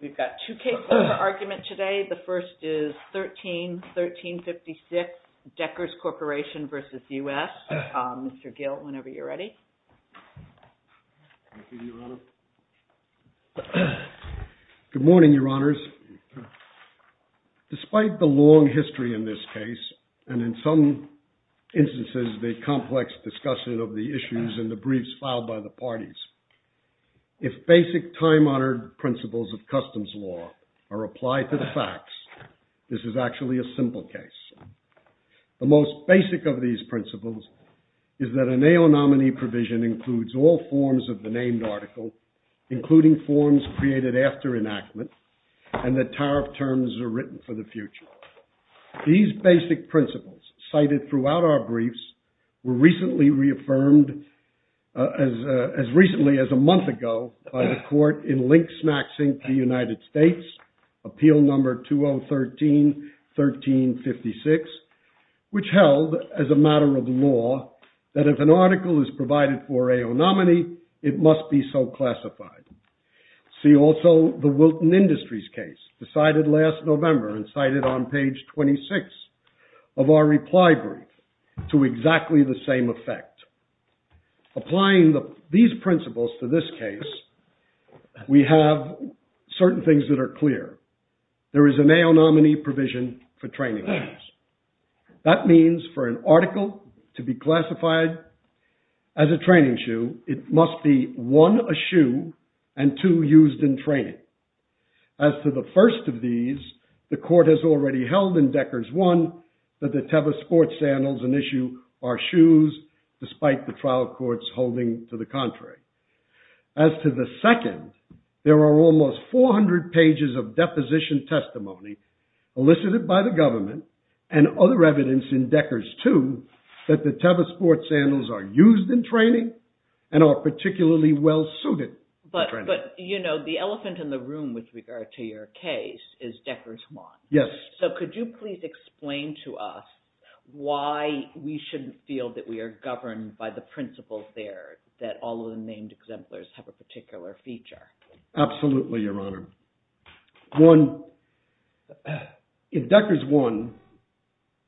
We've got two cases for argument today. The first is 13-1356, Deckers Corporation v. U.S. Mr. Gill, whenever you're ready. Good morning, Your Honors. Despite the long history in this case, and in some instances the complex discussion of the issues and the briefs filed by the parties, if basic time-honored principles of customs law are applied to the facts, this is actually a simple case. The most basic of these principles is that a NAO nominee provision includes all forms of the named article, including forms created after enactment, and that tariff terms are written for the future. These basic principles, cited throughout our briefs, were recently reaffirmed, as recently as a month ago, by the court in Link-Smack-Sync v. United States, Appeal No. 2013-1356, which held, as a matter of law, that if an article is provided for a nominee, it must be so classified. See also the Wilton Industries case, decided last November and cited on page 26 of our reply brief, to exactly the same effect. Applying these principles to this case, we have certain things that are clear. There is a NAO nominee provision for training shoes. That means for an article to be classified as a training shoe, it must be, one, a shoe, and two, used in training. As to the first of these, the court has already held in Deckers 1 that the Teva sports sandals, an issue, are shoes, despite the trial courts holding to the contrary. As to the second, there are almost 400 pages of deposition testimony, elicited by the government, and other evidence in Deckers 2, that the Teva sports sandals are used in training, and are particularly well suited. But the elephant in the room with regard to your case is Deckers 1. Yes. So could you please explain to us why we shouldn't feel that we are governed by the principles there, that all of the named exemplars have a particular feature? Absolutely, Your Honor. One, in Deckers 1,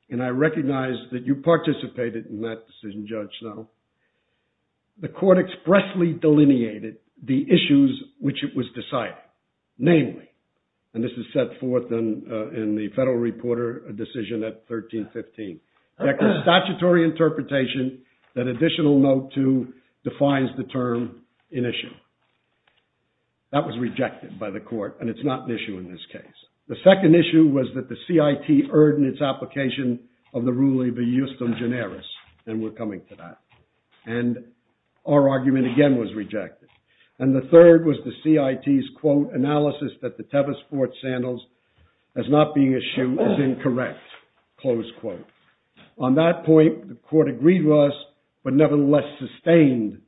and I recognize that you participated in that decision, Judge Snow, the court expressly delineated the issues which it was deciding, namely, and this is set forth in the federal reporter decision at 1315, that the statutory interpretation that Additional Note 2 defines the term, an issue. That was rejected by the court, and it's not an issue in this case. The second issue was that the CIT erred in its application of the rule of the justum generis, and we're coming to that. And our argument again was rejected. And the third was the CIT's, quote, analysis that the Teva sports sandals as not being issued was incorrect, close quote. On that point, the court agreed with us, but nevertheless sustained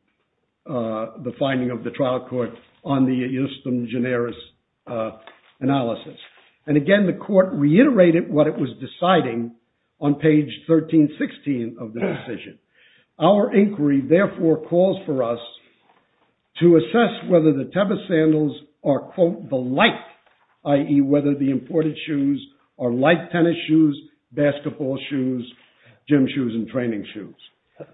the finding of the trial court on the justum generis analysis. And again, the court reiterated what it was deciding on page 1316 of the decision. Our inquiry, therefore, calls for us to assess whether the Teva sandals are, quote, the like, i.e., whether the imported shoes are like tennis shoes, basketball shoes, gym shoes, and training shoes.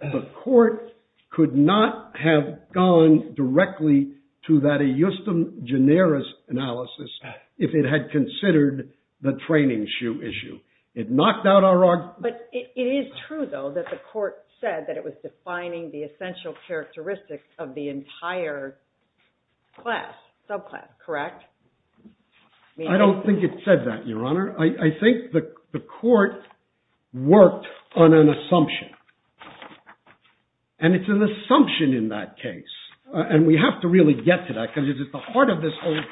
The court could not have gone directly to that justum generis analysis if it had considered the training shoe issue. But it is true, though, that the court said that it was defining the essential characteristics of the entire class, subclass, correct? I don't think it said that, Your Honor. I think the court worked on an assumption, and it's an assumption in that case, and we have to really get to that because it's at the heart of this whole thing.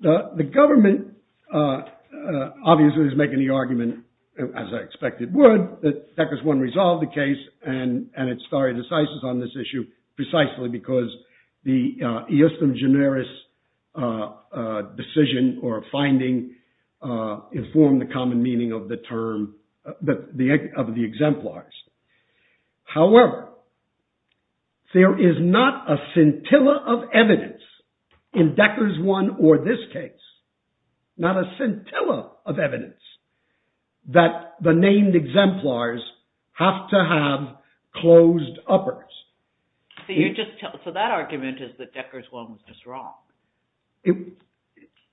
The government obviously is making the argument, as I expect it would, that Deckers 1 resolved the case, and it's very decisive on this issue, precisely because the justum generis decision or finding informed the common meaning of the term, of the exemplars. However, there is not a scintilla of evidence in Deckers 1 or this case, not a scintilla of evidence, that the named exemplars have to have closed uppers. So that argument is that Deckers 1 was just wrong.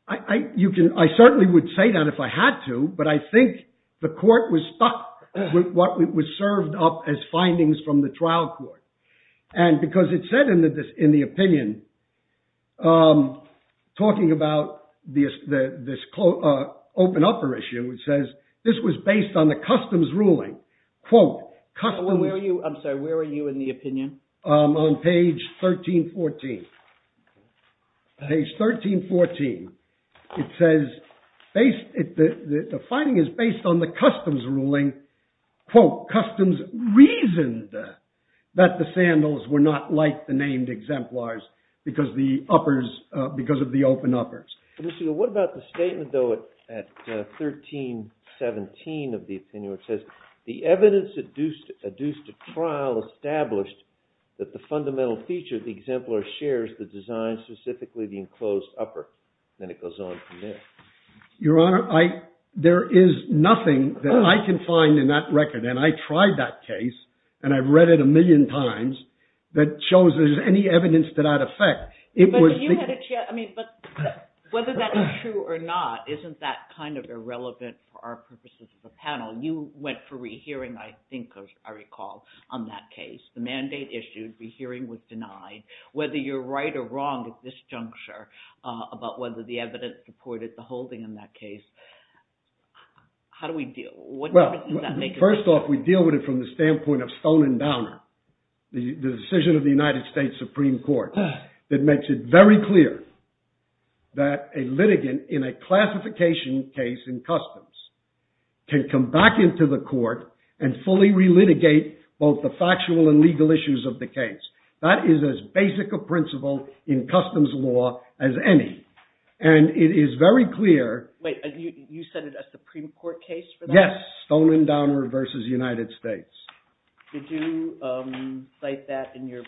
I certainly would say that if I had to, but I think the court was stuck with what was served up as findings from the trial court. And because it said in the opinion, talking about this open upper issue, it says this was based on the customs ruling. I'm sorry, where are you in the opinion? On page 1314. Page 1314. It says the finding is based on the customs ruling, customs reasoned that the sandals were not like the named exemplars because of the open uppers. What about the statement, though, at 1317 of the opinion, which says the evidence adduced to trial established that the fundamental feature of the exemplar shares the design, specifically the enclosed upper. Then it goes on from there. Your Honor, there is nothing that I can find in that record, and I tried that case, and I've read it a million times, that shows there's any evidence to that effect. But whether that is true or not, isn't that kind of irrelevant for our purposes as a panel? You went for rehearing, I think, I recall, on that case. The mandate issued, the hearing was denied. Whether you're right or wrong at this juncture about whether the evidence supported the holding in that case, how do we deal with it? First off, we deal with it from the standpoint of Stone and Downer. The decision of the United States Supreme Court that makes it very clear that a litigant in a classification case in customs can come back into the court and fully relitigate both the factual and legal issues of the case. That is as basic a principle in customs law as any, and it is very clear. Wait, you said it's a Supreme Court case for that? Yes, Stone and Downer v. United States. Did you cite that in your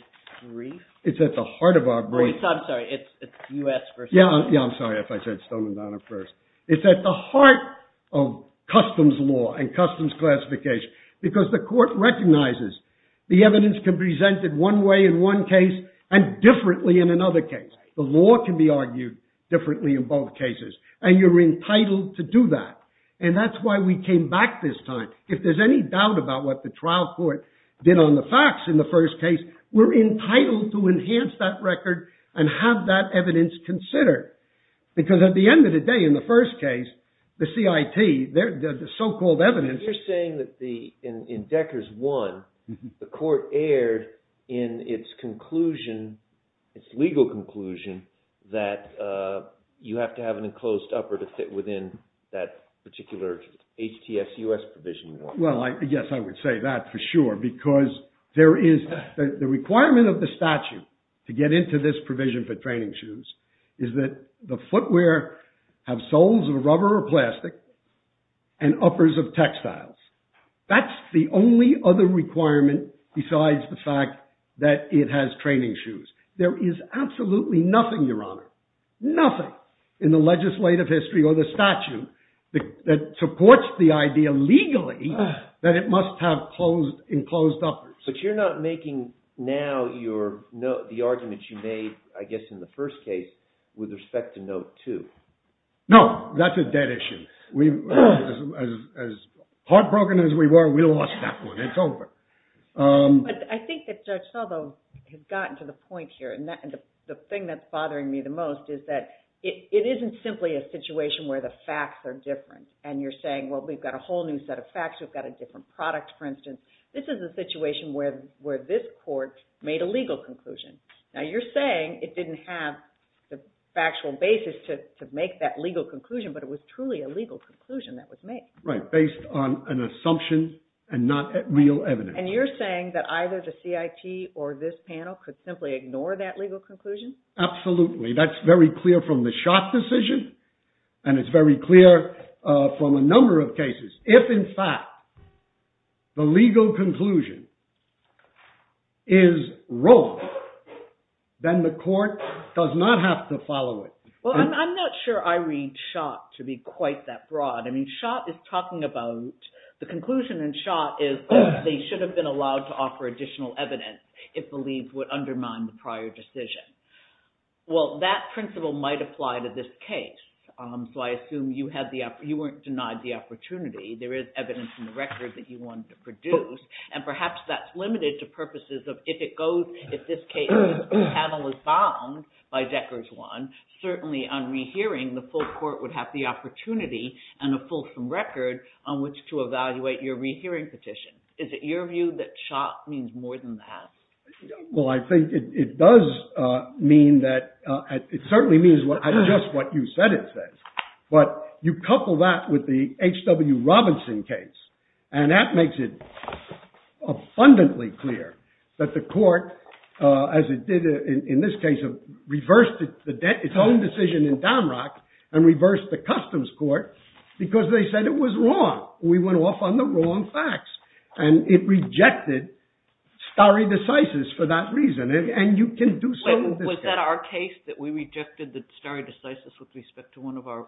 brief? It's at the heart of our brief. I'm sorry, it's U.S. v. United States. Yeah, I'm sorry if I said Stone and Downer first. It's at the heart of customs law and customs classification because the court recognizes the evidence can be presented one way in one case and differently in another case. The law can be argued differently in both cases, and you're entitled to do that, and that's why we came back this time. If there's any doubt about what the trial court did on the facts in the first case, we're entitled to enhance that record and have that evidence considered. Because at the end of the day, in the first case, the CIT, the so-called evidence... You're saying that in Decker's one, the court erred in its conclusion, its legal conclusion, that you have to have an enclosed upper to fit within that particular HTSUS provision. Well, yes, I would say that for sure, because there is... The requirement of the statute to get into this provision for training shoes is that the footwear have soles of rubber or plastic and uppers of textiles. That's the only other requirement besides the fact that it has training shoes. There is absolutely nothing, Your Honor, nothing in the legislative history or the statute that supports the idea legally that it must have enclosed uppers. But you're not making now the arguments you made, I guess, in the first case with respect to note two. No, that's a dead issue. As heartbroken as we were, we lost that one. It's over. But I think that Judge Saldo has gotten to the point here, and the thing that's bothering me the most is that it isn't simply a situation where the facts are different, and you're saying, well, we've got a whole new set of facts, we've got a different product, for instance. This is a situation where this court made a legal conclusion. Now, you're saying it didn't have the factual basis to make that legal conclusion, but it was truly a legal conclusion that was made. Right, based on an assumption and not real evidence. And you're saying that either the CIT or this panel could simply ignore that legal conclusion? Absolutely. That's very clear from the Schott decision, and it's very clear from a number of cases. If, in fact, the legal conclusion is wrong, then the court does not have to follow it. Well, I'm not sure I read Schott to be quite that broad. I mean, Schott is talking about the conclusion in Schott is they should have been allowed to offer additional evidence, it believes, would undermine the prior decision. Well, that principle might apply to this case, so I assume you weren't denied the opportunity. There is evidence in the record that you wanted to produce, and perhaps that's limited to purposes of if it goes – if this panel is bound by Decker's one, certainly on rehearing, the full court would have the opportunity and a fulsome record on which to evaluate your rehearing petition. Is it your view that Schott means more than that? Well, I think it does mean that – it certainly means just what you said it says. But you couple that with the H.W. Robinson case, and that makes it abundantly clear that the court, as it did in this case, reversed its own decision in Damrock and reversed the customs court because they said it was wrong. We went off on the wrong facts, and it rejected stare decisis for that reason, and you can do so in this case. Was that our case that we rejected the stare decisis with respect to one of our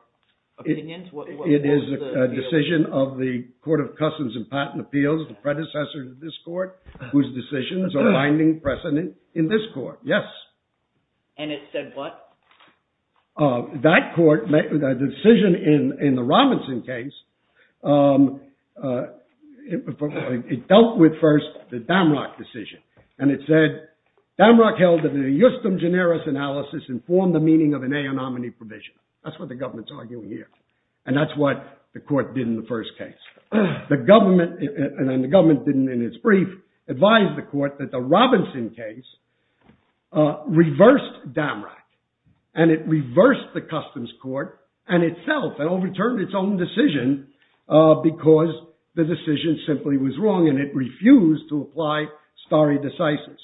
opinions? It is a decision of the Court of Customs and Patent Appeals, the predecessor to this court, whose decisions are binding precedent in this court, yes. And it said what? That court, the decision in the Robinson case, it dealt with first the Damrock decision. And it said Damrock held that the justum generis analysis informed the meaning of an aeonomany provision. That's what the government's arguing here. And that's what the court did in the first case. And the government didn't, in its brief, advise the court that the Robinson case reversed Damrock, and it reversed the customs court and itself and overturned its own decision because the decision simply was wrong, and it refused to apply stare decisis.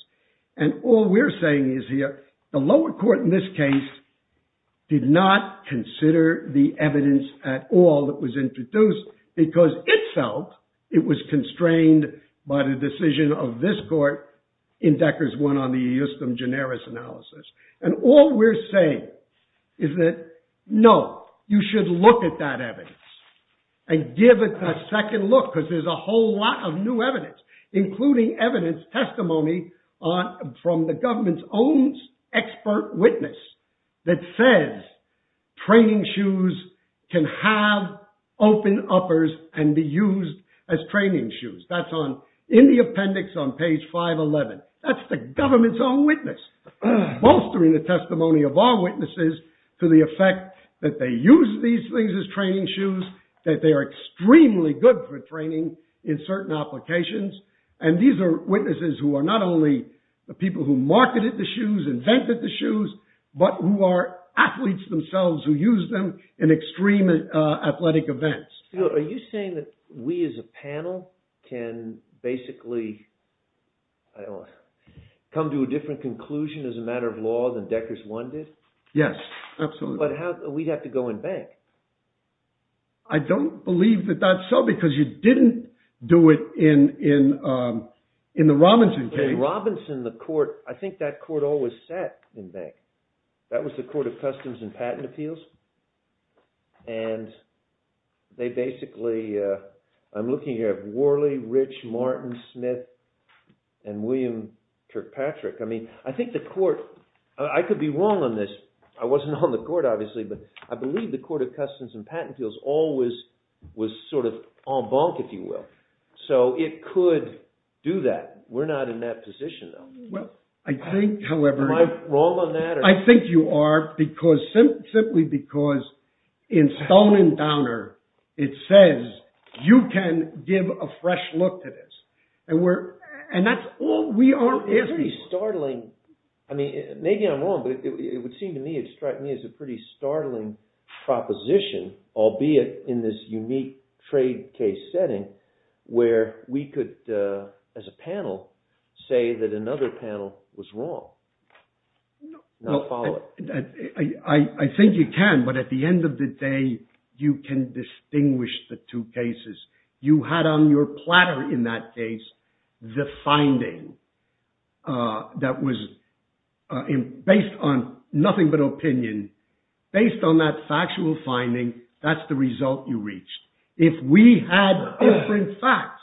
And all we're saying is here, the lower court in this case did not consider the evidence at all that was introduced because itself it was constrained by the decision of this court in Decker's one on the justum generis analysis. And all we're saying is that, no, you should look at that evidence and give it a second look because there's a whole lot of new evidence, including evidence, testimony from the government's own expert witness that says training shoes can have open uppers and be used as training shoes. That's in the appendix on page 511. That's the government's own witness. Bolstering the testimony of our witnesses to the effect that they use these things as training shoes, that they are extremely good for training in certain applications. And these are witnesses who are not only the people who marketed the shoes, invented the shoes, but who are athletes themselves who use them in extreme athletic events. Are you saying that we as a panel can basically come to a different conclusion as a matter of law than Decker's one did? Yes, absolutely. But we'd have to go in bank. I don't believe that that's so because you didn't do it in the Robinson case. In Robinson, the court, I think that court always sat in bank. That was the Court of Customs and Patent Appeals. And they basically, I'm looking here at Worley, Rich, Martin, Smith, and William Kirkpatrick. I mean, I think the court, I could be wrong on this. I wasn't on the court, obviously, but I believe the Court of Customs and Patent Appeals always was sort of en banc, if you will. So it could do that. We're not in that position, though. Am I wrong on that? I think you are, simply because in Stone and Downer, it says you can give a fresh look to this. And that's all we are asking for. Maybe I'm wrong, but it would seem to me it's a pretty startling proposition, albeit in this unique trade case setting, where we could, as a panel, say that another panel was wrong. I think you can, but at the end of the day, you can distinguish the two cases. You had on your platter in that case the finding that was based on nothing but opinion. Based on that factual finding, that's the result you reached. If we had different facts,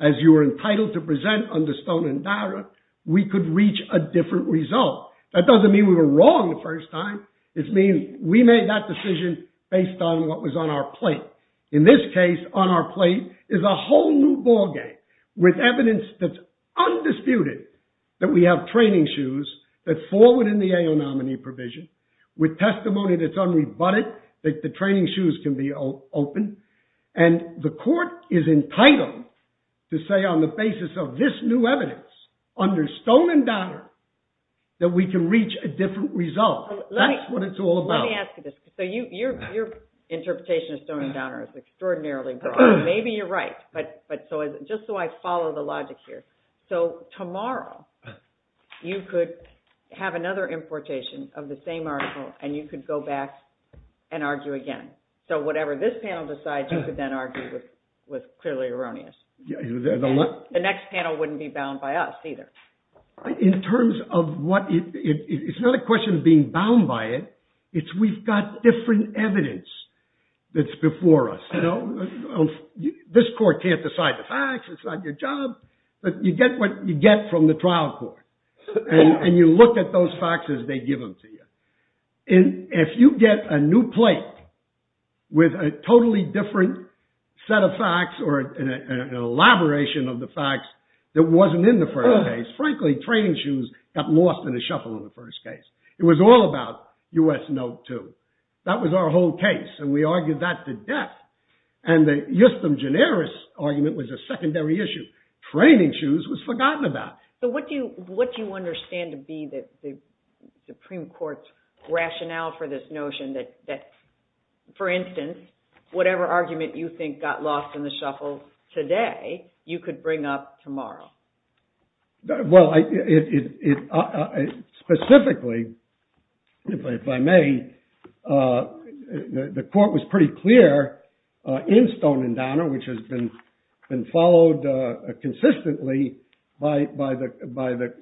as you were entitled to present on the Stone and Downer, we could reach a different result. That doesn't mean we were wrong the first time. It means we made that decision based on what was on our plate. In this case, on our plate is a whole new ball game with evidence that's undisputed that we have training shoes that fall within the AO nominee provision, with testimony that's unrebutted, that the training shoes can be open. And the court is entitled to say on the basis of this new evidence, under Stone and Downer, that we can reach a different result. That's what it's all about. Let me ask you this. So your interpretation of Stone and Downer is extraordinarily broad. Maybe you're right, but just so I follow the logic here. So tomorrow, you could have another importation of the same article, and you could go back and argue again. So whatever this panel decides, you could then argue with clearly erroneous. The next panel wouldn't be bound by us either. In terms of what it is, it's not a question of being bound by it. It's we've got different evidence that's before us. This court can't decide the facts. It's not your job. But you get what you get from the trial court. And you look at those facts as they give them to you. And if you get a new plate with a totally different set of facts or an elaboration of the facts that wasn't in the first case, frankly, training shoes got lost in the shuffle in the first case. It was all about U.S. Note 2. That was our whole case. And we argued that to death. And the justum generis argument was a secondary issue. Training shoes was forgotten about. So what do you understand to be the Supreme Court's rationale for this notion that, for instance, whatever argument you think got lost in the shuffle today, you could bring up tomorrow? Well, specifically, if I may, the court was pretty clear in Stone and Downer, which has been followed consistently by the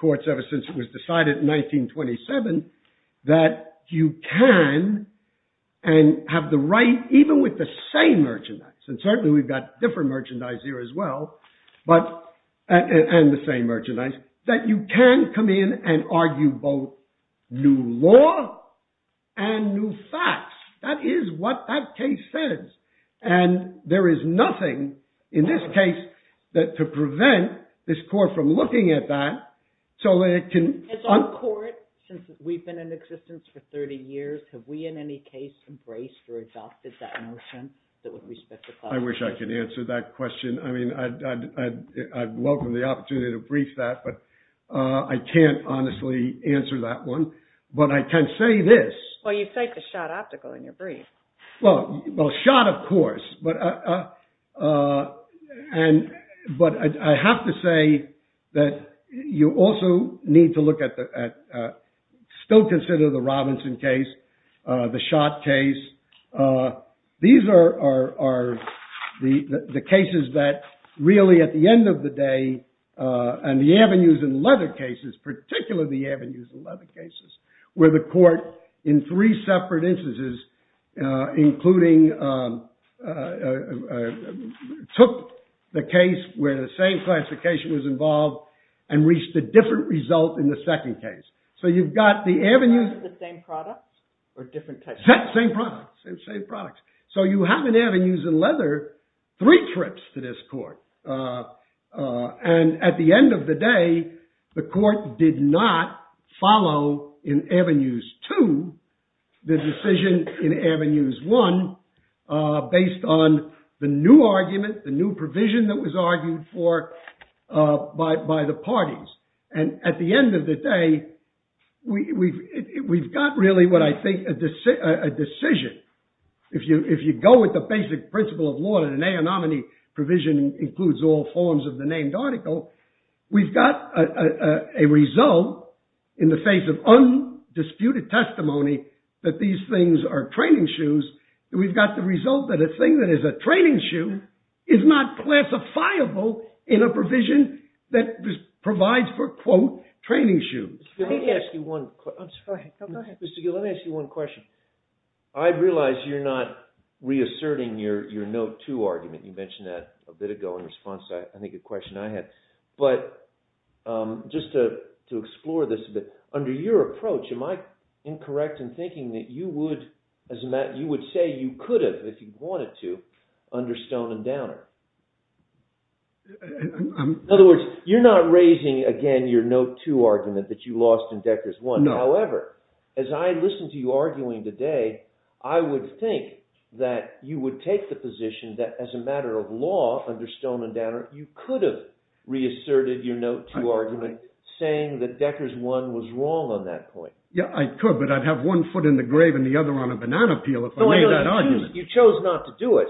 courts ever since it was decided in 1927, that you can and have the right, even with the same merchandise. And certainly we've got different merchandise here as well. And the same merchandise. That you can come in and argue both new law and new facts. That is what that case says. And there is nothing in this case to prevent this court from looking at that so that it can uncourt. Has our court, since we've been in existence for 30 years, have we in any case embraced or adopted that notion? I wish I could answer that question. I mean, I'd welcome the opportunity to brief that. But I can't honestly answer that one. But I can say this. Well, you take the shot optical in your brief. Well, shot, of course. But I have to say that you also need to look at, still consider the Robinson case, the shot case. These are the cases that really, at the end of the day, and the avenues and leather cases, particularly the avenues and leather cases, where the court, in three separate instances, including took the case where the same classification was involved and reached a different result in the second case. So you've got the avenues. The same products? Or different types? Same products. Same products. So you have in avenues and leather three trips to this court. And at the end of the day, the court did not follow in avenues two the decision in avenues one based on the new argument, the new provision that was argued for by the parties. And at the end of the day, we've got really, what I think, a decision. If you go with the basic principle of law that an anonymity provision includes all forms of the named article, we've got a result in the face of undisputed testimony that these things are training shoes. We've got the result that a thing that is a training shoe is not classifiable in a provision that provides for, quote, training shoes. Mr. Gill, let me ask you one question. I realize you're not reasserting your note two argument. You mentioned that a bit ago in response to, I think, a question I had. But just to explore this a bit, under your approach, am I incorrect in thinking that you would say you could have if you wanted to under Stone and Downer? In other words, you're not raising, again, your note two argument that you lost in Decker's one. However, as I listened to you arguing today, I would think that you would take the position that as a matter of law under Stone and Downer, you could have reasserted your note two argument saying that Decker's one was wrong on that point. Yeah, I could, but I'd have one foot in the grave and the other on a banana peel if I made that argument. You chose not to do it,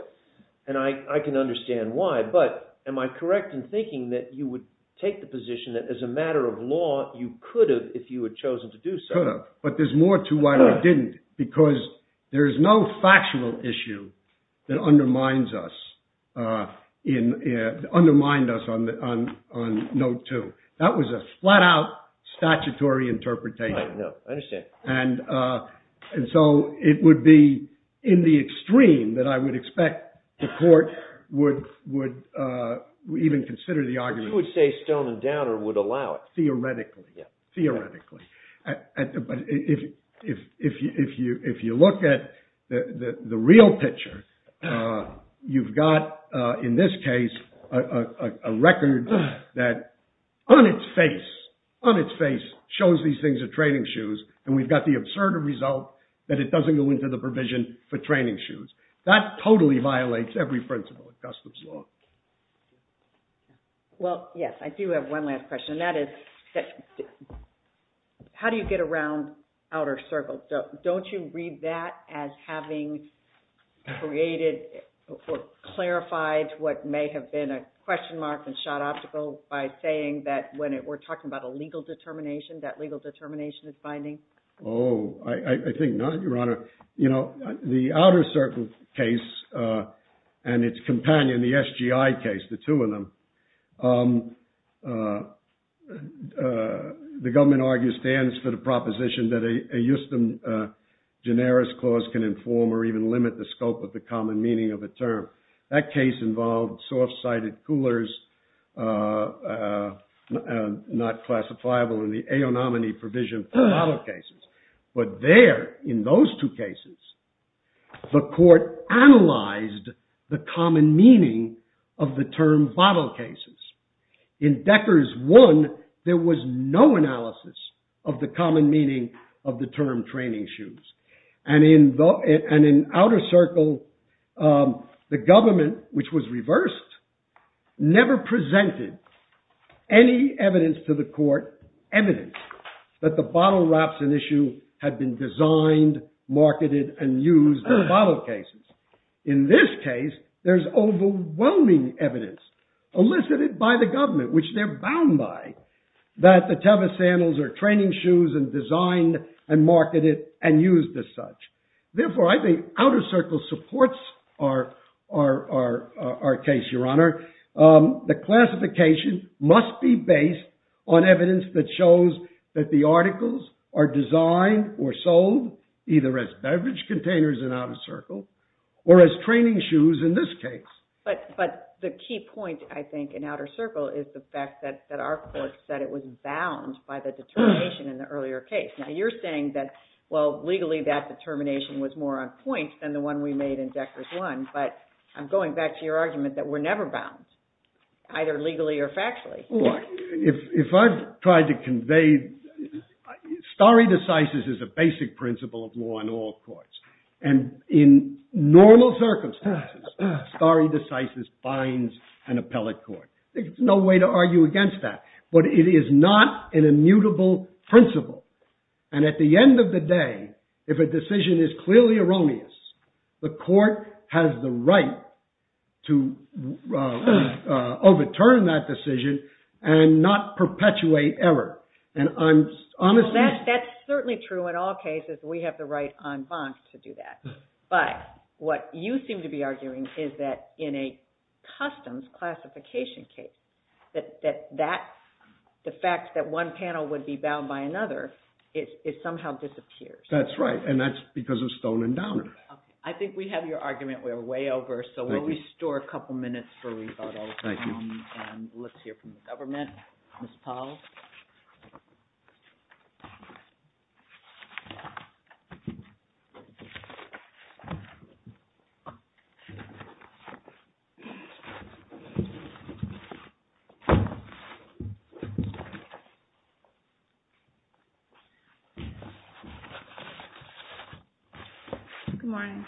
and I can understand why. But am I correct in thinking that you would take the position that as a matter of law, you could have if you had chosen to do so? Could have, but there's more to why I didn't. Because there is no factual issue that undermines us on note two. That was a flat out statutory interpretation. I understand. And so it would be in the extreme that I would expect the court would even consider the argument. But you would say Stone and Downer would allow it. Theoretically. Yeah. Theoretically. But if you look at the real picture, you've got, in this case, a record that on its face, on its face, shows these things are training shoes, and we've got the absurd result that it doesn't go into the provision for training shoes. That totally violates every principle of customs law. Well, yes, I do have one last question, and that is, how do you get around outer circles? Don't you read that as having created or clarified what may have been a question mark and shot optical by saying that when we're talking about a legal determination, that legal determination is binding? Oh, I think not, Your Honor. You know, the outer circle case and its companion, the SGI case, the two of them, the government argue stands for the proposition that a justum generis clause can inform or even limit the scope of the common meaning of a term. That case involved soft-sided coolers, not classifiable in the aeonomany provision for model cases. But there, in those two cases, the court analyzed the common meaning of the term model cases. In Decker's one, there was no analysis of the common meaning of the term training shoes. And in outer circle, the government, which was reversed, never presented any evidence to the court, evidence, that the bottle wraps in issue had been designed, marketed, and used in model cases. In this case, there's overwhelming evidence elicited by the government, which they're bound by, that the Teva Sandals are training shoes and designed and marketed and used as such. Therefore, I think outer circle supports our case, Your Honor. The classification must be based on evidence that shows that the articles are designed or sold either as beverage containers in outer circle or as training shoes in this case. But the key point, I think, in outer circle is the fact that our court said it was bound by the determination in the earlier case. Now, you're saying that, well, legally, that determination was more on point than the one we made in Decker's one. But I'm going back to your argument that we're never bound, either legally or factually. If I tried to convey, stare decisis is a basic principle of law in all courts. And in normal circumstances, stare decisis binds an appellate court. There's no way to argue against that. But it is not an immutable principle. And at the end of the day, if a decision is clearly erroneous, the court has the right to overturn that decision and not perpetuate error. And I'm honestly Well, that's certainly true in all cases. We have the right en banc to do that. But what you seem to be arguing is that in a customs classification case, that the fact that one panel would be bound by another, it somehow disappears. That's right. And that's because of Stone and Downer. I think we have your argument. We're way over. So we'll restore a couple minutes for rebuttal. Thank you. And let's hear from the government. Ms. Powell? Good morning.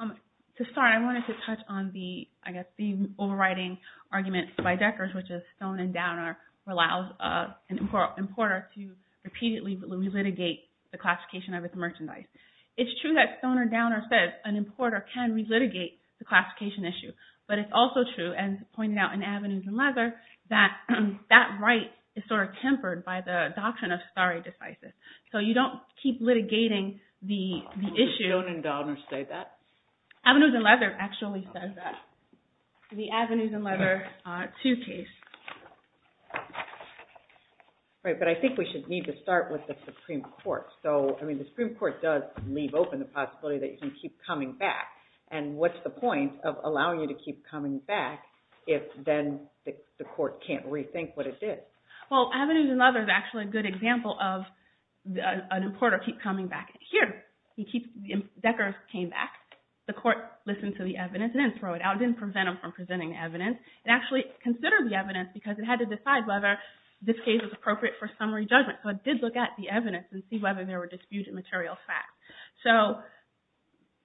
To start, I wanted to touch on the overriding argument by Deckers, which is Stone and Downer allows an importer to repeatedly relitigate the classification of its merchandise. It's true that Stone and Downer says an importer can relitigate the classification issue. But it's also true, as pointed out in Avenues and Leather, that that right is sort of tempered by the doctrine of stare decisis. So you don't keep litigating the issue Don't Stone and Downer say that? Avenues and Leather actually says that. The Avenues and Leather 2 case. Right, but I think we should need to start with the Supreme Court. So, I mean, the Supreme Court does leave open the possibility that you can keep coming back. And what's the point of allowing you to keep coming back if then the court can't rethink what it did? Well, Avenues and Leather is actually a good example of an importer keep coming back. Here, Deckers came back. The court listened to the evidence and then threw it out. It didn't prevent them from presenting evidence. It actually considered the evidence because it had to decide whether this case was appropriate for summary judgment. So it did look at the evidence and see whether there were disputed material facts. So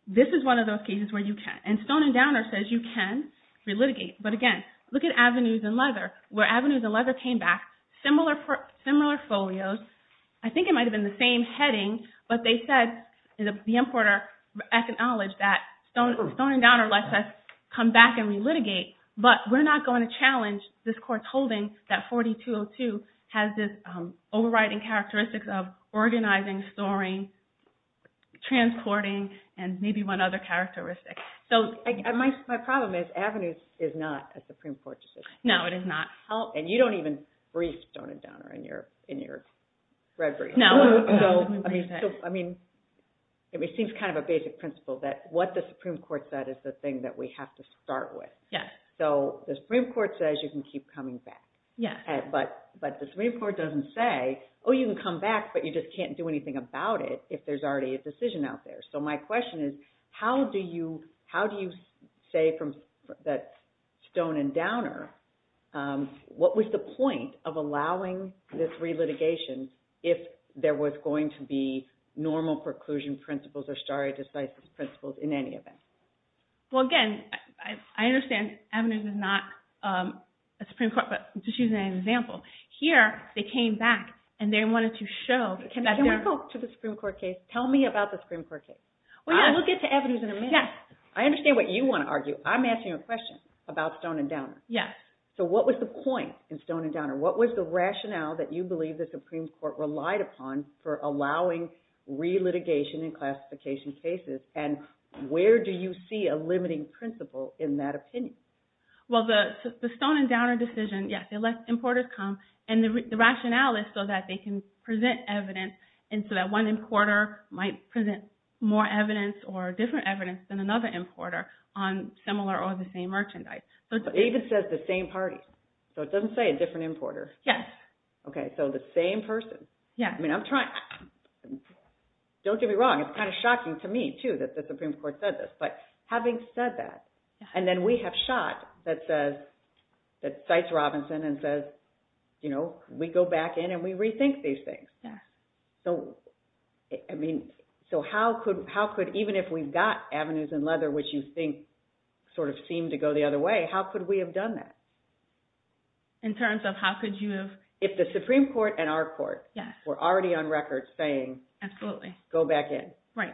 this is one of those cases where you can. And Stone and Downer says you can relitigate. But again, look at Avenues and Leather. Where Avenues and Leather came back, similar folios. I think it might have been the same heading. But they said, the importer acknowledged that Stone and Downer lets us come back and relitigate. But we're not going to challenge this court's holding that 4202 has this overriding characteristics of organizing, storing, transporting, and maybe one other characteristic. My problem is Avenues is not a Supreme Court decision. No, it is not. And you don't even brief Stone and Downer in your red brief. No. I mean, it seems kind of a basic principle that what the Supreme Court said is the thing that we have to start with. Yes. So the Supreme Court says you can keep coming back. Yes. But the Supreme Court doesn't say, oh, you can come back, but you just can't do anything about it if there's already a decision out there. So my question is, how do you say from Stone and Downer, what was the point of allowing this relitigation if there was going to be normal preclusion principles or stare decisis principles in any event? Well, again, I understand Avenues is not a Supreme Court, but just using an example. Here, they came back, and they wanted to show that they're— Can we go to the Supreme Court case? Tell me about the Supreme Court case. Well, yeah. We'll get to Avenues in a minute. Yes. I understand what you want to argue. I'm asking you a question about Stone and Downer. Yes. So what was the point in Stone and Downer? What was the rationale that you believe the Supreme Court relied upon for allowing relitigation and classification cases? And where do you see a limiting principle in that opinion? Well, the Stone and Downer decision, yes, they let importers come. And the rationale is so that they can present evidence and so that one importer might present more evidence or different evidence than another importer on similar or the same merchandise. But it even says the same party. So it doesn't say a different importer. Yes. Okay, so the same person. Yes. I mean, I'm trying. Don't get me wrong. It's kind of shocking to me, too, that the Supreme Court said this. But having said that, and then we have Schott that cites Robinson and says, you know, we go back in and we rethink these things. Yes. So, I mean, so how could, even if we've got Avenues in Leather, which you think sort of seem to go the other way, how could we have done that? In terms of how could you have? If the Supreme Court and our court were already on record saying go back in. Right.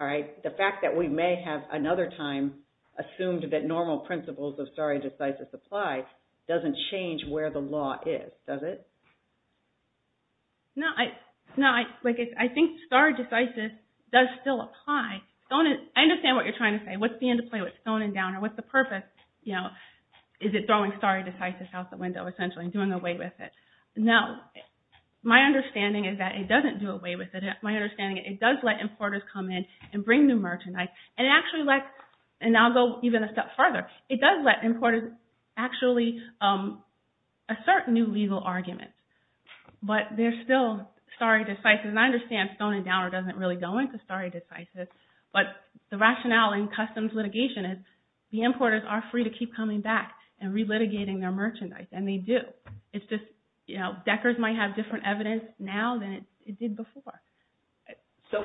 All right. The fact that we may have another time assumed that normal principles of stare decisis apply doesn't change where the law is, does it? No, I think stare decisis does still apply. I understand what you're trying to say. What's the end of play with stoning down or what's the purpose? You know, is it throwing stare decisis out the window essentially and doing away with it? No. My understanding is that it doesn't do away with it. My understanding is it does let importers come in and bring new merchandise, and it actually lets, and I'll go even a step further. It does let importers actually assert new legal arguments, but they're still stare decisis, and I understand stoning down doesn't really go into stare decisis, but the rationale in customs litigation is the importers are free to keep coming back and relitigating their merchandise, and they do. It's just, you know, Decker's might have different evidence now than it did before. So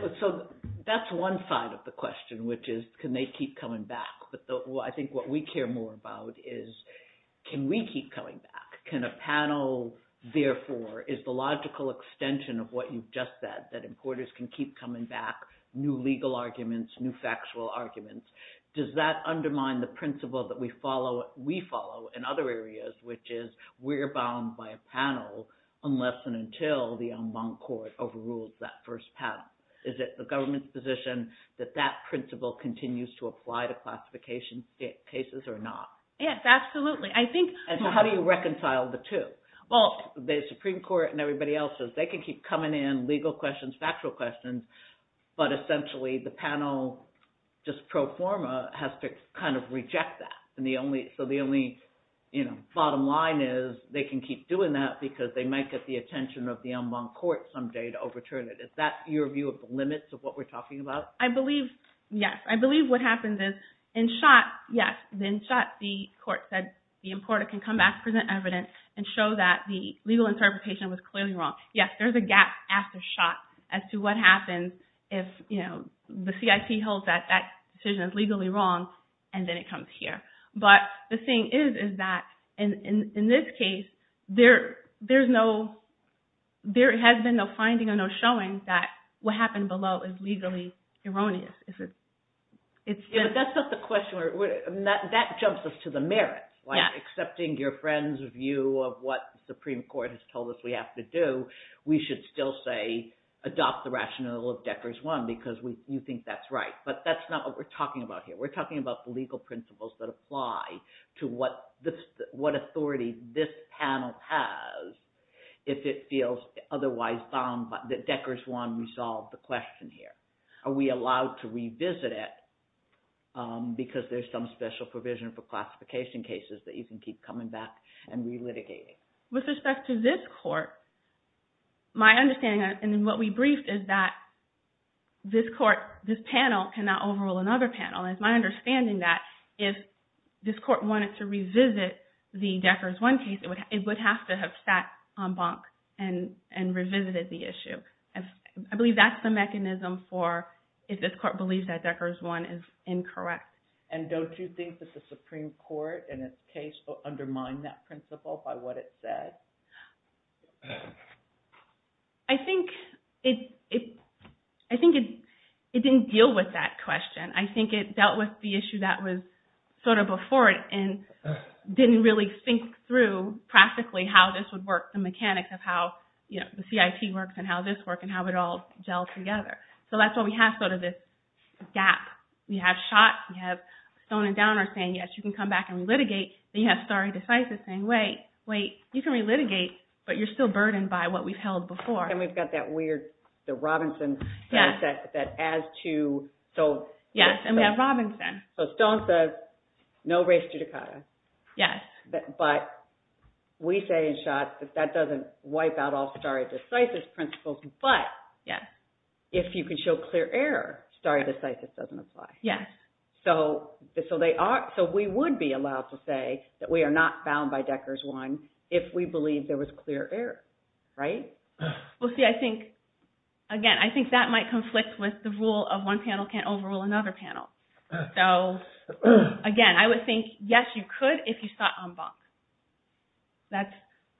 that's one side of the question, which is can they keep coming back, but I think what we care more about is can we keep coming back? Can a panel, therefore, is the logical extension of what you've just said, that importers can keep coming back, new legal arguments, new factual arguments. Does that undermine the principle that we follow in other areas, which is we're bound by a panel unless and until the en banc court overrules that first panel? Is it the government's position that that principle continues to apply to classification cases or not? Yes, absolutely. So how do you reconcile the two? Well, the Supreme Court and everybody else says they can keep coming in legal questions, factual questions, but essentially the panel, just pro forma, has to kind of reject that. So the only bottom line is they can keep doing that because they might get the attention of the en banc court someday to overturn it. Is that your view of the limits of what we're talking about? I believe, yes. I believe what happens is in Schott, yes, in Schott the court said the importer can come back, present evidence, and show that the legal interpretation was clearly wrong. Yes, there's a gap after Schott as to what happens if the CIP holds that that decision is legally wrong and then it comes here. But the thing is that in this case, there has been no finding or no showing that what happened below is legally erroneous. Yes, but that's not the question. That jumps us to the merit. Accepting your friend's view of what the Supreme Court has told us we have to do, we should still say adopt the rationale of Decker's one because you think that's right. But that's not what we're talking about here. We're talking about the legal principles that apply to what authority this panel has if it feels otherwise found that Decker's one resolved the question here. Are we allowed to revisit it because there's some special provision for classification cases that you can keep coming back and relitigating? With respect to this court, my understanding and what we briefed is that this panel cannot overrule another panel. It's my understanding that if this court wanted to revisit the Decker's one case, it would have to have sat on bonk and revisited the issue. I believe that's the mechanism for if this court believes that Decker's one is incorrect. And don't you think that the Supreme Court in its case undermined that principle by what it said? I think it didn't deal with that question. I think it dealt with the issue that was sort of before it and didn't really think through practically how this would work, the mechanics of how the CIT works and how this works and how it all gels together. So that's why we have sort of this gap. We have Schott, we have Stone and Downer saying, yes, you can come back and re-litigate. Then you have Stare Decisis saying, wait, wait, you can re-litigate, but you're still burdened by what we've held before. And we've got that weird Robinson thing that adds to... Yes, and we have Robinson. So Stone says, no res judicata. Yes. But we say in Schott that that doesn't wipe out all Stare Decisis principles. But if you can show clear error, Stare Decisis doesn't apply. Yes. So we would be allowed to say that we are not bound by Decker's one if we believe there was clear error, right? Well, see, I think, again, I think that might conflict with the rule of one panel can't overrule another panel. So, again, I would think, yes, you could if you saw en banc.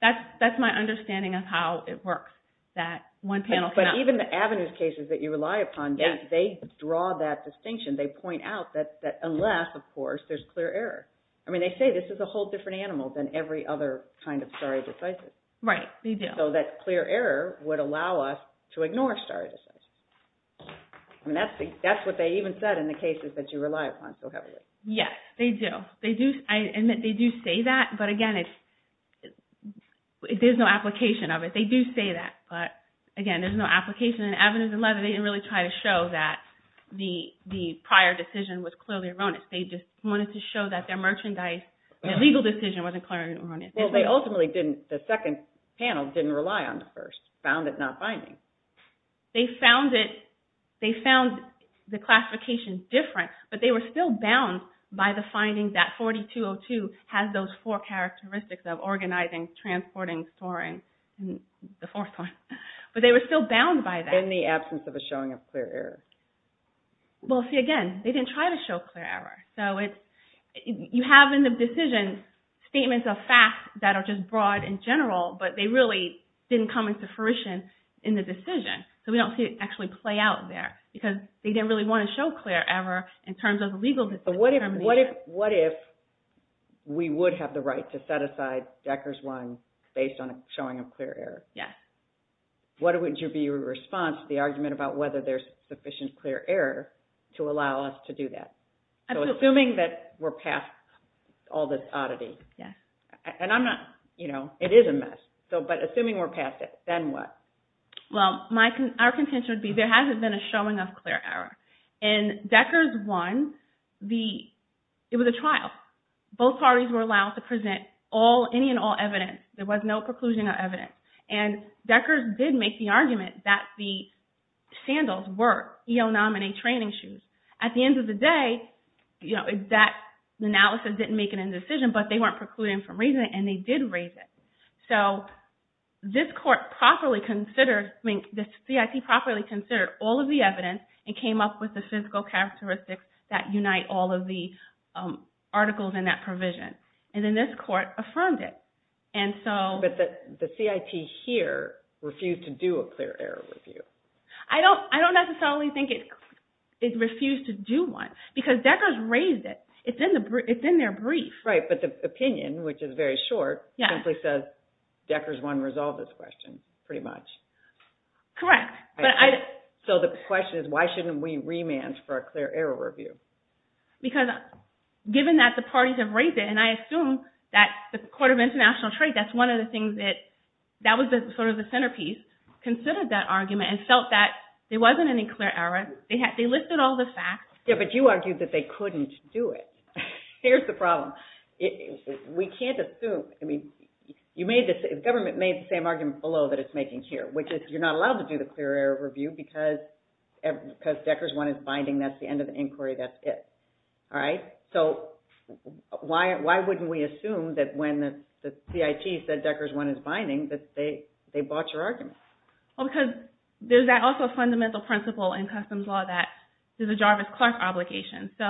That's my understanding of how it works, that one panel cannot... But even the avenues cases that you rely upon, they draw that distinction. They point out that unless, of course, there's clear error. I mean, they say this is a whole different animal than every other kind of Stare Decisis. Right, they do. So that clear error would allow us to ignore Stare Decisis. I mean, that's what they even said in the cases that you rely upon so heavily. Yes, they do. I admit they do say that, but, again, there's no application of it. They do say that, but, again, there's no application. And avenues 11, they didn't really try to show that the prior decision was clearly erroneous. They just wanted to show that their merchandise, their legal decision wasn't clearly erroneous. Well, they ultimately didn't, the second panel didn't rely on the first, found it not binding. They found the classification different, but they were still bound by the finding that 4202 has those four characteristics of organizing, transporting, storing, the fourth one. But they were still bound by that. In the absence of a showing of clear error. Well, see, again, they didn't try to show clear error. So you have in the decision statements of facts that are just broad and general, but they really didn't come into fruition in the decision. So we don't see it actually play out there. Because they didn't really want to show clear error in terms of the legal determination. But what if we would have the right to set aside Decker's wine based on a showing of clear error? Yes. What would be your response to the argument about whether there's sufficient clear error to allow us to do that? Absolutely. So assuming that we're past all this oddity. Yes. It is a mess. But assuming we're past it, then what? Well, our contention would be there hasn't been a showing of clear error. In Decker's wine, it was a trial. Both parties were allowed to present any and all evidence. There was no preclusion or evidence. And Decker's did make the argument that the sandals were EO nominee training shoes. At the end of the day, that analysis didn't make an indecision. But they weren't precluding from raising it, and they did raise it. So this court properly considered, I mean, the CIT properly considered all of the evidence and came up with the physical characteristics that unite all of the articles in that provision. And then this court affirmed it. But the CIT here refused to do a clear error review. I don't necessarily think it refused to do one. Because Decker's raised it. It's in their brief. Right. But the opinion, which is very short, simply says Decker's won't resolve this question, pretty much. Correct. So the question is, why shouldn't we remand for a clear error review? Because given that the parties have raised it, and I assume that the Court of International Trade, that's one of the things that, that was sort of the centerpiece, considered that argument and felt that there wasn't any clear error. They listed all the facts. Yeah, but you argued that they couldn't do it. Here's the problem. We can't assume. I mean, you made this, the government made the same argument below that it's making here, which is you're not allowed to do the clear error review because Decker's one is binding. That's the end of the inquiry. That's it. All right? So why wouldn't we assume that when the CIT said Decker's one is binding that they bought your argument? Well, because there's also a fundamental principle in customs law that there's a Jarvis-Clark obligation. So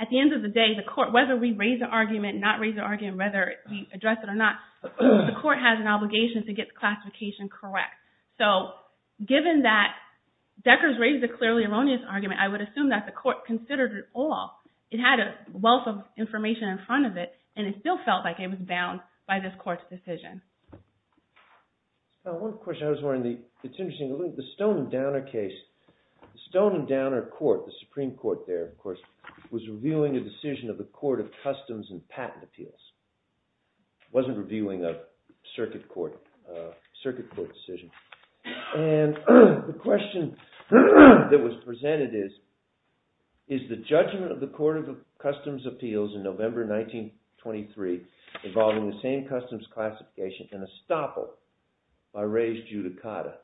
at the end of the day, the court, whether we raise the argument, not raise the argument, whether we address it or not, the court has an obligation to get the classification correct. So given that Decker's raised a clearly erroneous argument, I would assume that the court considered it all. It had a wealth of information in front of it, and it still felt like it was bound by this court's decision. Now, one question I was wondering, it's interesting. The Stone and Downer case, the Stone and Downer court, the Supreme Court there, of course, was reviewing a decision of the Court of Customs and Patent Appeals. It wasn't reviewing a circuit court decision. And the question that was presented is, is the judgment of the Court of Customs Appeals in November 1923 involving the same customs classification an estoppel by res judicata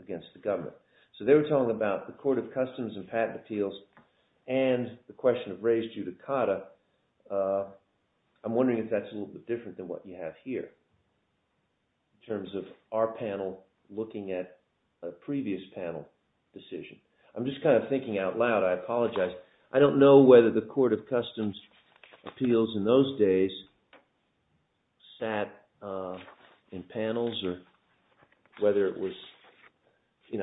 against the government? So they were talking about the Court of Customs and Patent Appeals and the question of res judicata. I'm wondering if that's a little bit different than what you have here in terms of our panel looking at a previous panel decision. I'm just kind of thinking out loud. I apologize. I don't know whether the Court of Customs Appeals in those days sat in panels or whether it was an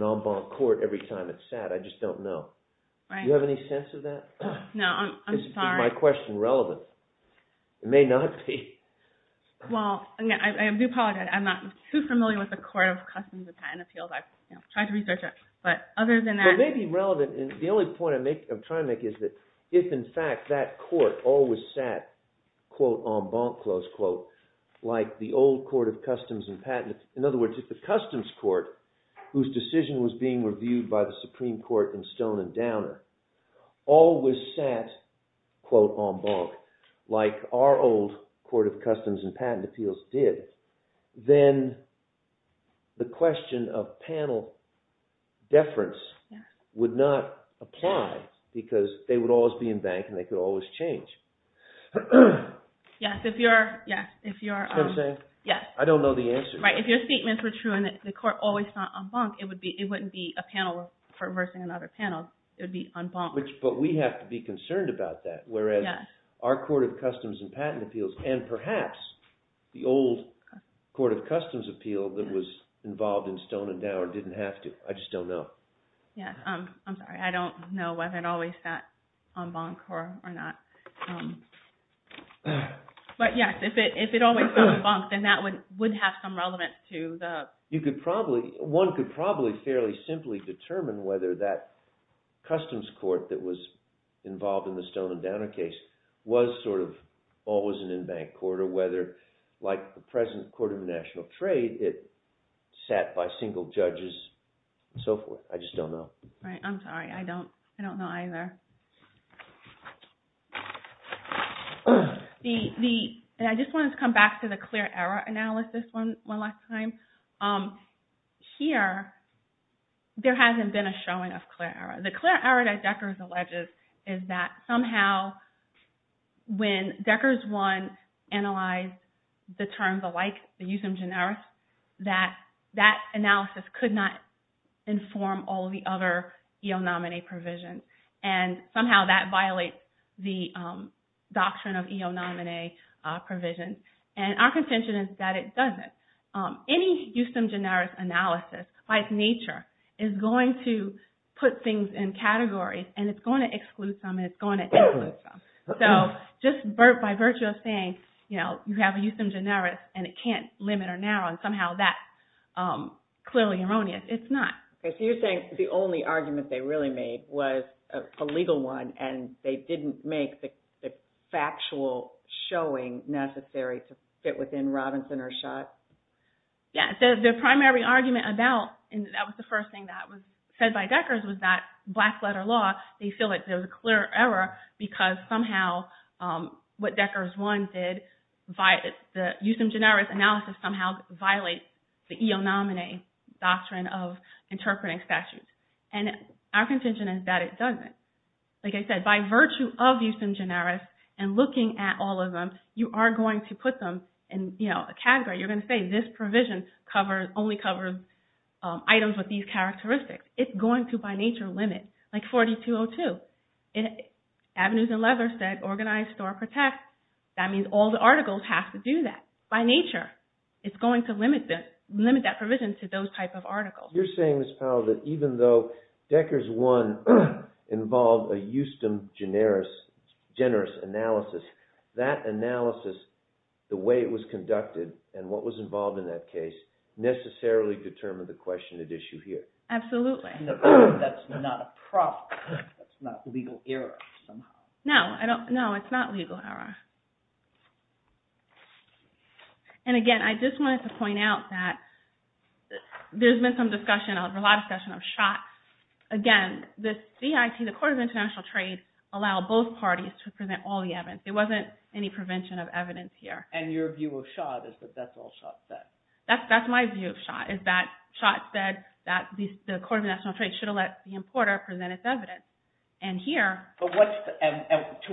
en banc court every time it sat. I just don't know. Do you have any sense of that? No, I'm sorry. Is my question relevant? It may not be. Well, I do apologize. I'm not too familiar with the Court of Customs and Patent Appeals. I've tried to research it, but other than that… It may be relevant. The only point I'm trying to make is that if, in fact, that court always sat, quote, en banc, close quote, like the old Court of Customs and Patent… In other words, if the Customs Court, whose decision was being reviewed by the Supreme Court in Stone and Downer, always sat, quote, en banc, like our old Court of Customs and Patent Appeals did, then the question of panel deference would not apply because they would always be en banc and they could always change. Yes, if your… Is that what I'm saying? Yes. I don't know the answer. Right. If your statements were true and the court always sat en banc, it wouldn't be a panel for reversing another panel. It would be en banc. But we have to be concerned about that, whereas our Court of Customs and Patent Appeals and perhaps the old Court of Customs Appeal that was involved in Stone and Downer didn't have to. I just don't know. I'm sorry. I don't know whether it always sat en banc or not. But yes, if it always sat en banc, then that would have some relevance to the… Right. I'm sorry. I don't know either. I just wanted to come back to the clear error analysis one last time. Here, there hasn't been a showing of clear error. The clear error that Decker's alleges is that somehow when Decker's one analyzed the terms alike, the usum generis, that that analysis could not inform all of the other eonominae provisions. And somehow that violates the doctrine of eonominae provisions. And our contention is that it doesn't. Any usum generis analysis by its nature is going to put things in categories and it's going to exclude some and it's going to include some. So just by virtue of saying you have a usum generis and it can't limit or narrow, somehow that's clearly erroneous. It's not. So you're saying the only argument they really made was a legal one and they didn't make the factual showing necessary to fit within Robinson or Schott? Yeah. The primary argument about, and that was the first thing that was said by Decker's, was that black letter law, they feel like there was a clear error because somehow what Decker's one did, the usum generis analysis somehow violates the eonominae doctrine of interpreting statutes. And our contention is that it doesn't. Like I said, by virtue of usum generis and looking at all of them, you are going to put them in a category. You're going to say this provision only covers items with these characteristics. It's going to, by nature, limit. Like 4202, Avenues and Leathers said organized, store, protect. That means all the articles have to do that. By nature, it's going to limit that provision to those type of articles. You're saying, Ms. Powell, that even though Decker's one involved a usum generis analysis, that analysis, the way it was conducted, and what was involved in that case, necessarily determined the question at issue here. Absolutely. That's not a problem. That's not legal error somehow. No, it's not legal error. And again, I just wanted to point out that there's been some discussion, a lot of discussion of Schott. Again, the CIT, the Court of International Trade, allowed both parties to present all the evidence. There wasn't any prevention of evidence here. And your view of Schott is that that's all Schott said. That's my view of Schott, is that Schott said that the Court of International Trade should have let the importer present its evidence. And here… To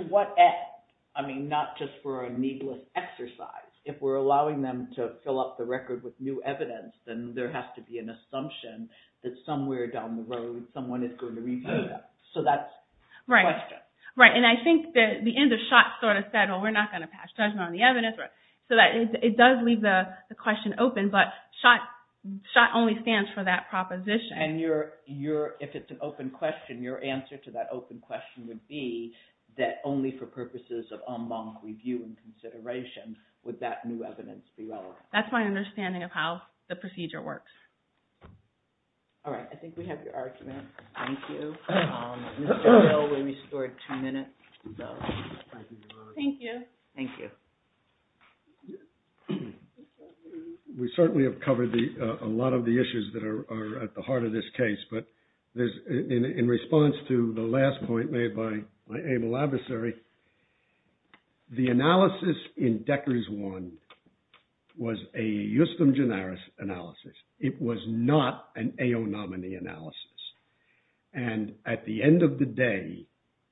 what end? I mean, not just for a needless exercise. If we're allowing them to fill up the record with new evidence, then there has to be an assumption that somewhere down the road, someone is going to review that. So that's the question. Right. And I think the end of Schott sort of said, well, we're not going to pass judgment on the evidence. So it does leave the question open, but Schott only stands for that proposition. And if it's an open question, your answer to that open question would be that only for purposes of en banc review and consideration would that new evidence be relevant. That's my understanding of how the procedure works. All right. I think we have your argument. Thank you. Mr. Hill, we restored two minutes. Thank you. Thank you. We certainly have covered a lot of the issues that are at the heart of this case. But in response to the last point made by my able adversary, the analysis in Decker's one was a justum generis analysis. It was not an AO nominee analysis. And at the end of the day,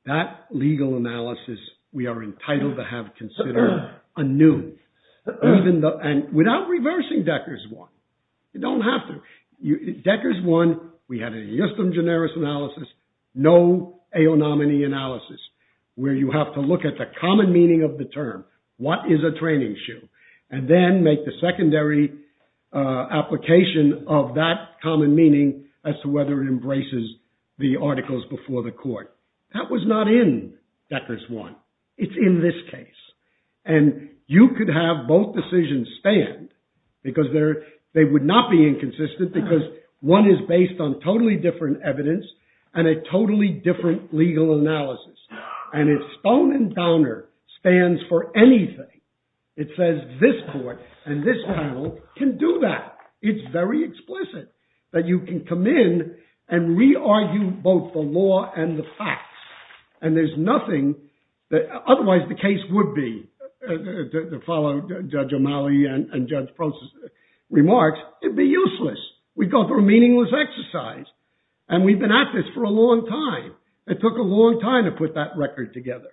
that legal analysis we are entitled to have considered anew. And without reversing Decker's one, you don't have to. Decker's one, we had a justum generis analysis, no AO nominee analysis, where you have to look at the common meaning of the term. What is a training shoe? And then make the secondary application of that common meaning as to whether it embraces the articles before the court. That was not in Decker's one. It's in this case. And you could have both decisions stand because they would not be inconsistent because one is based on totally different evidence and a totally different legal analysis. And if stone and downer stands for anything, it says this court and this panel can do that. It's very explicit that you can come in and re-argue both the law and the facts. And there's nothing, otherwise the case would be, to follow Judge O'Malley and Judge Prosser's remarks, it would be useless. We'd go through a meaningless exercise. And we've been at this for a long time. It took a long time to put that record together.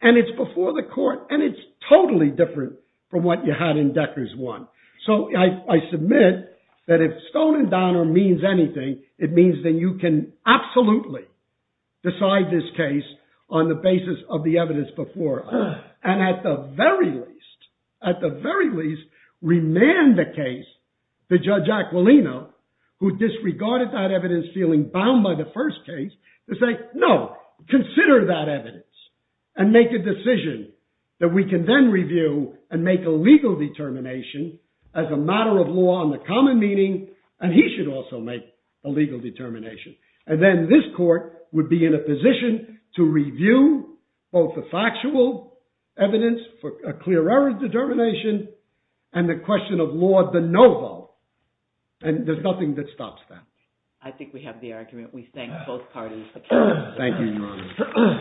And it's before the court, and it's totally different from what you had in Decker's one. So I submit that if stone and downer means anything, it means that you can absolutely decide this case on the basis of the evidence before us. And at the very least, at the very least, remand the case to Judge Aquilino, who disregarded that evidence, feeling bound by the first case, to say, no, consider that evidence. And make a decision that we can then review and make a legal determination as a matter of law and the common meaning, and he should also make a legal determination. And then this court would be in a position to review both the factual evidence for a clear error determination and the question of law de novo. And there's nothing that stops that. I think we have the argument. We thank both parties for coming. Thank you, Your Honor.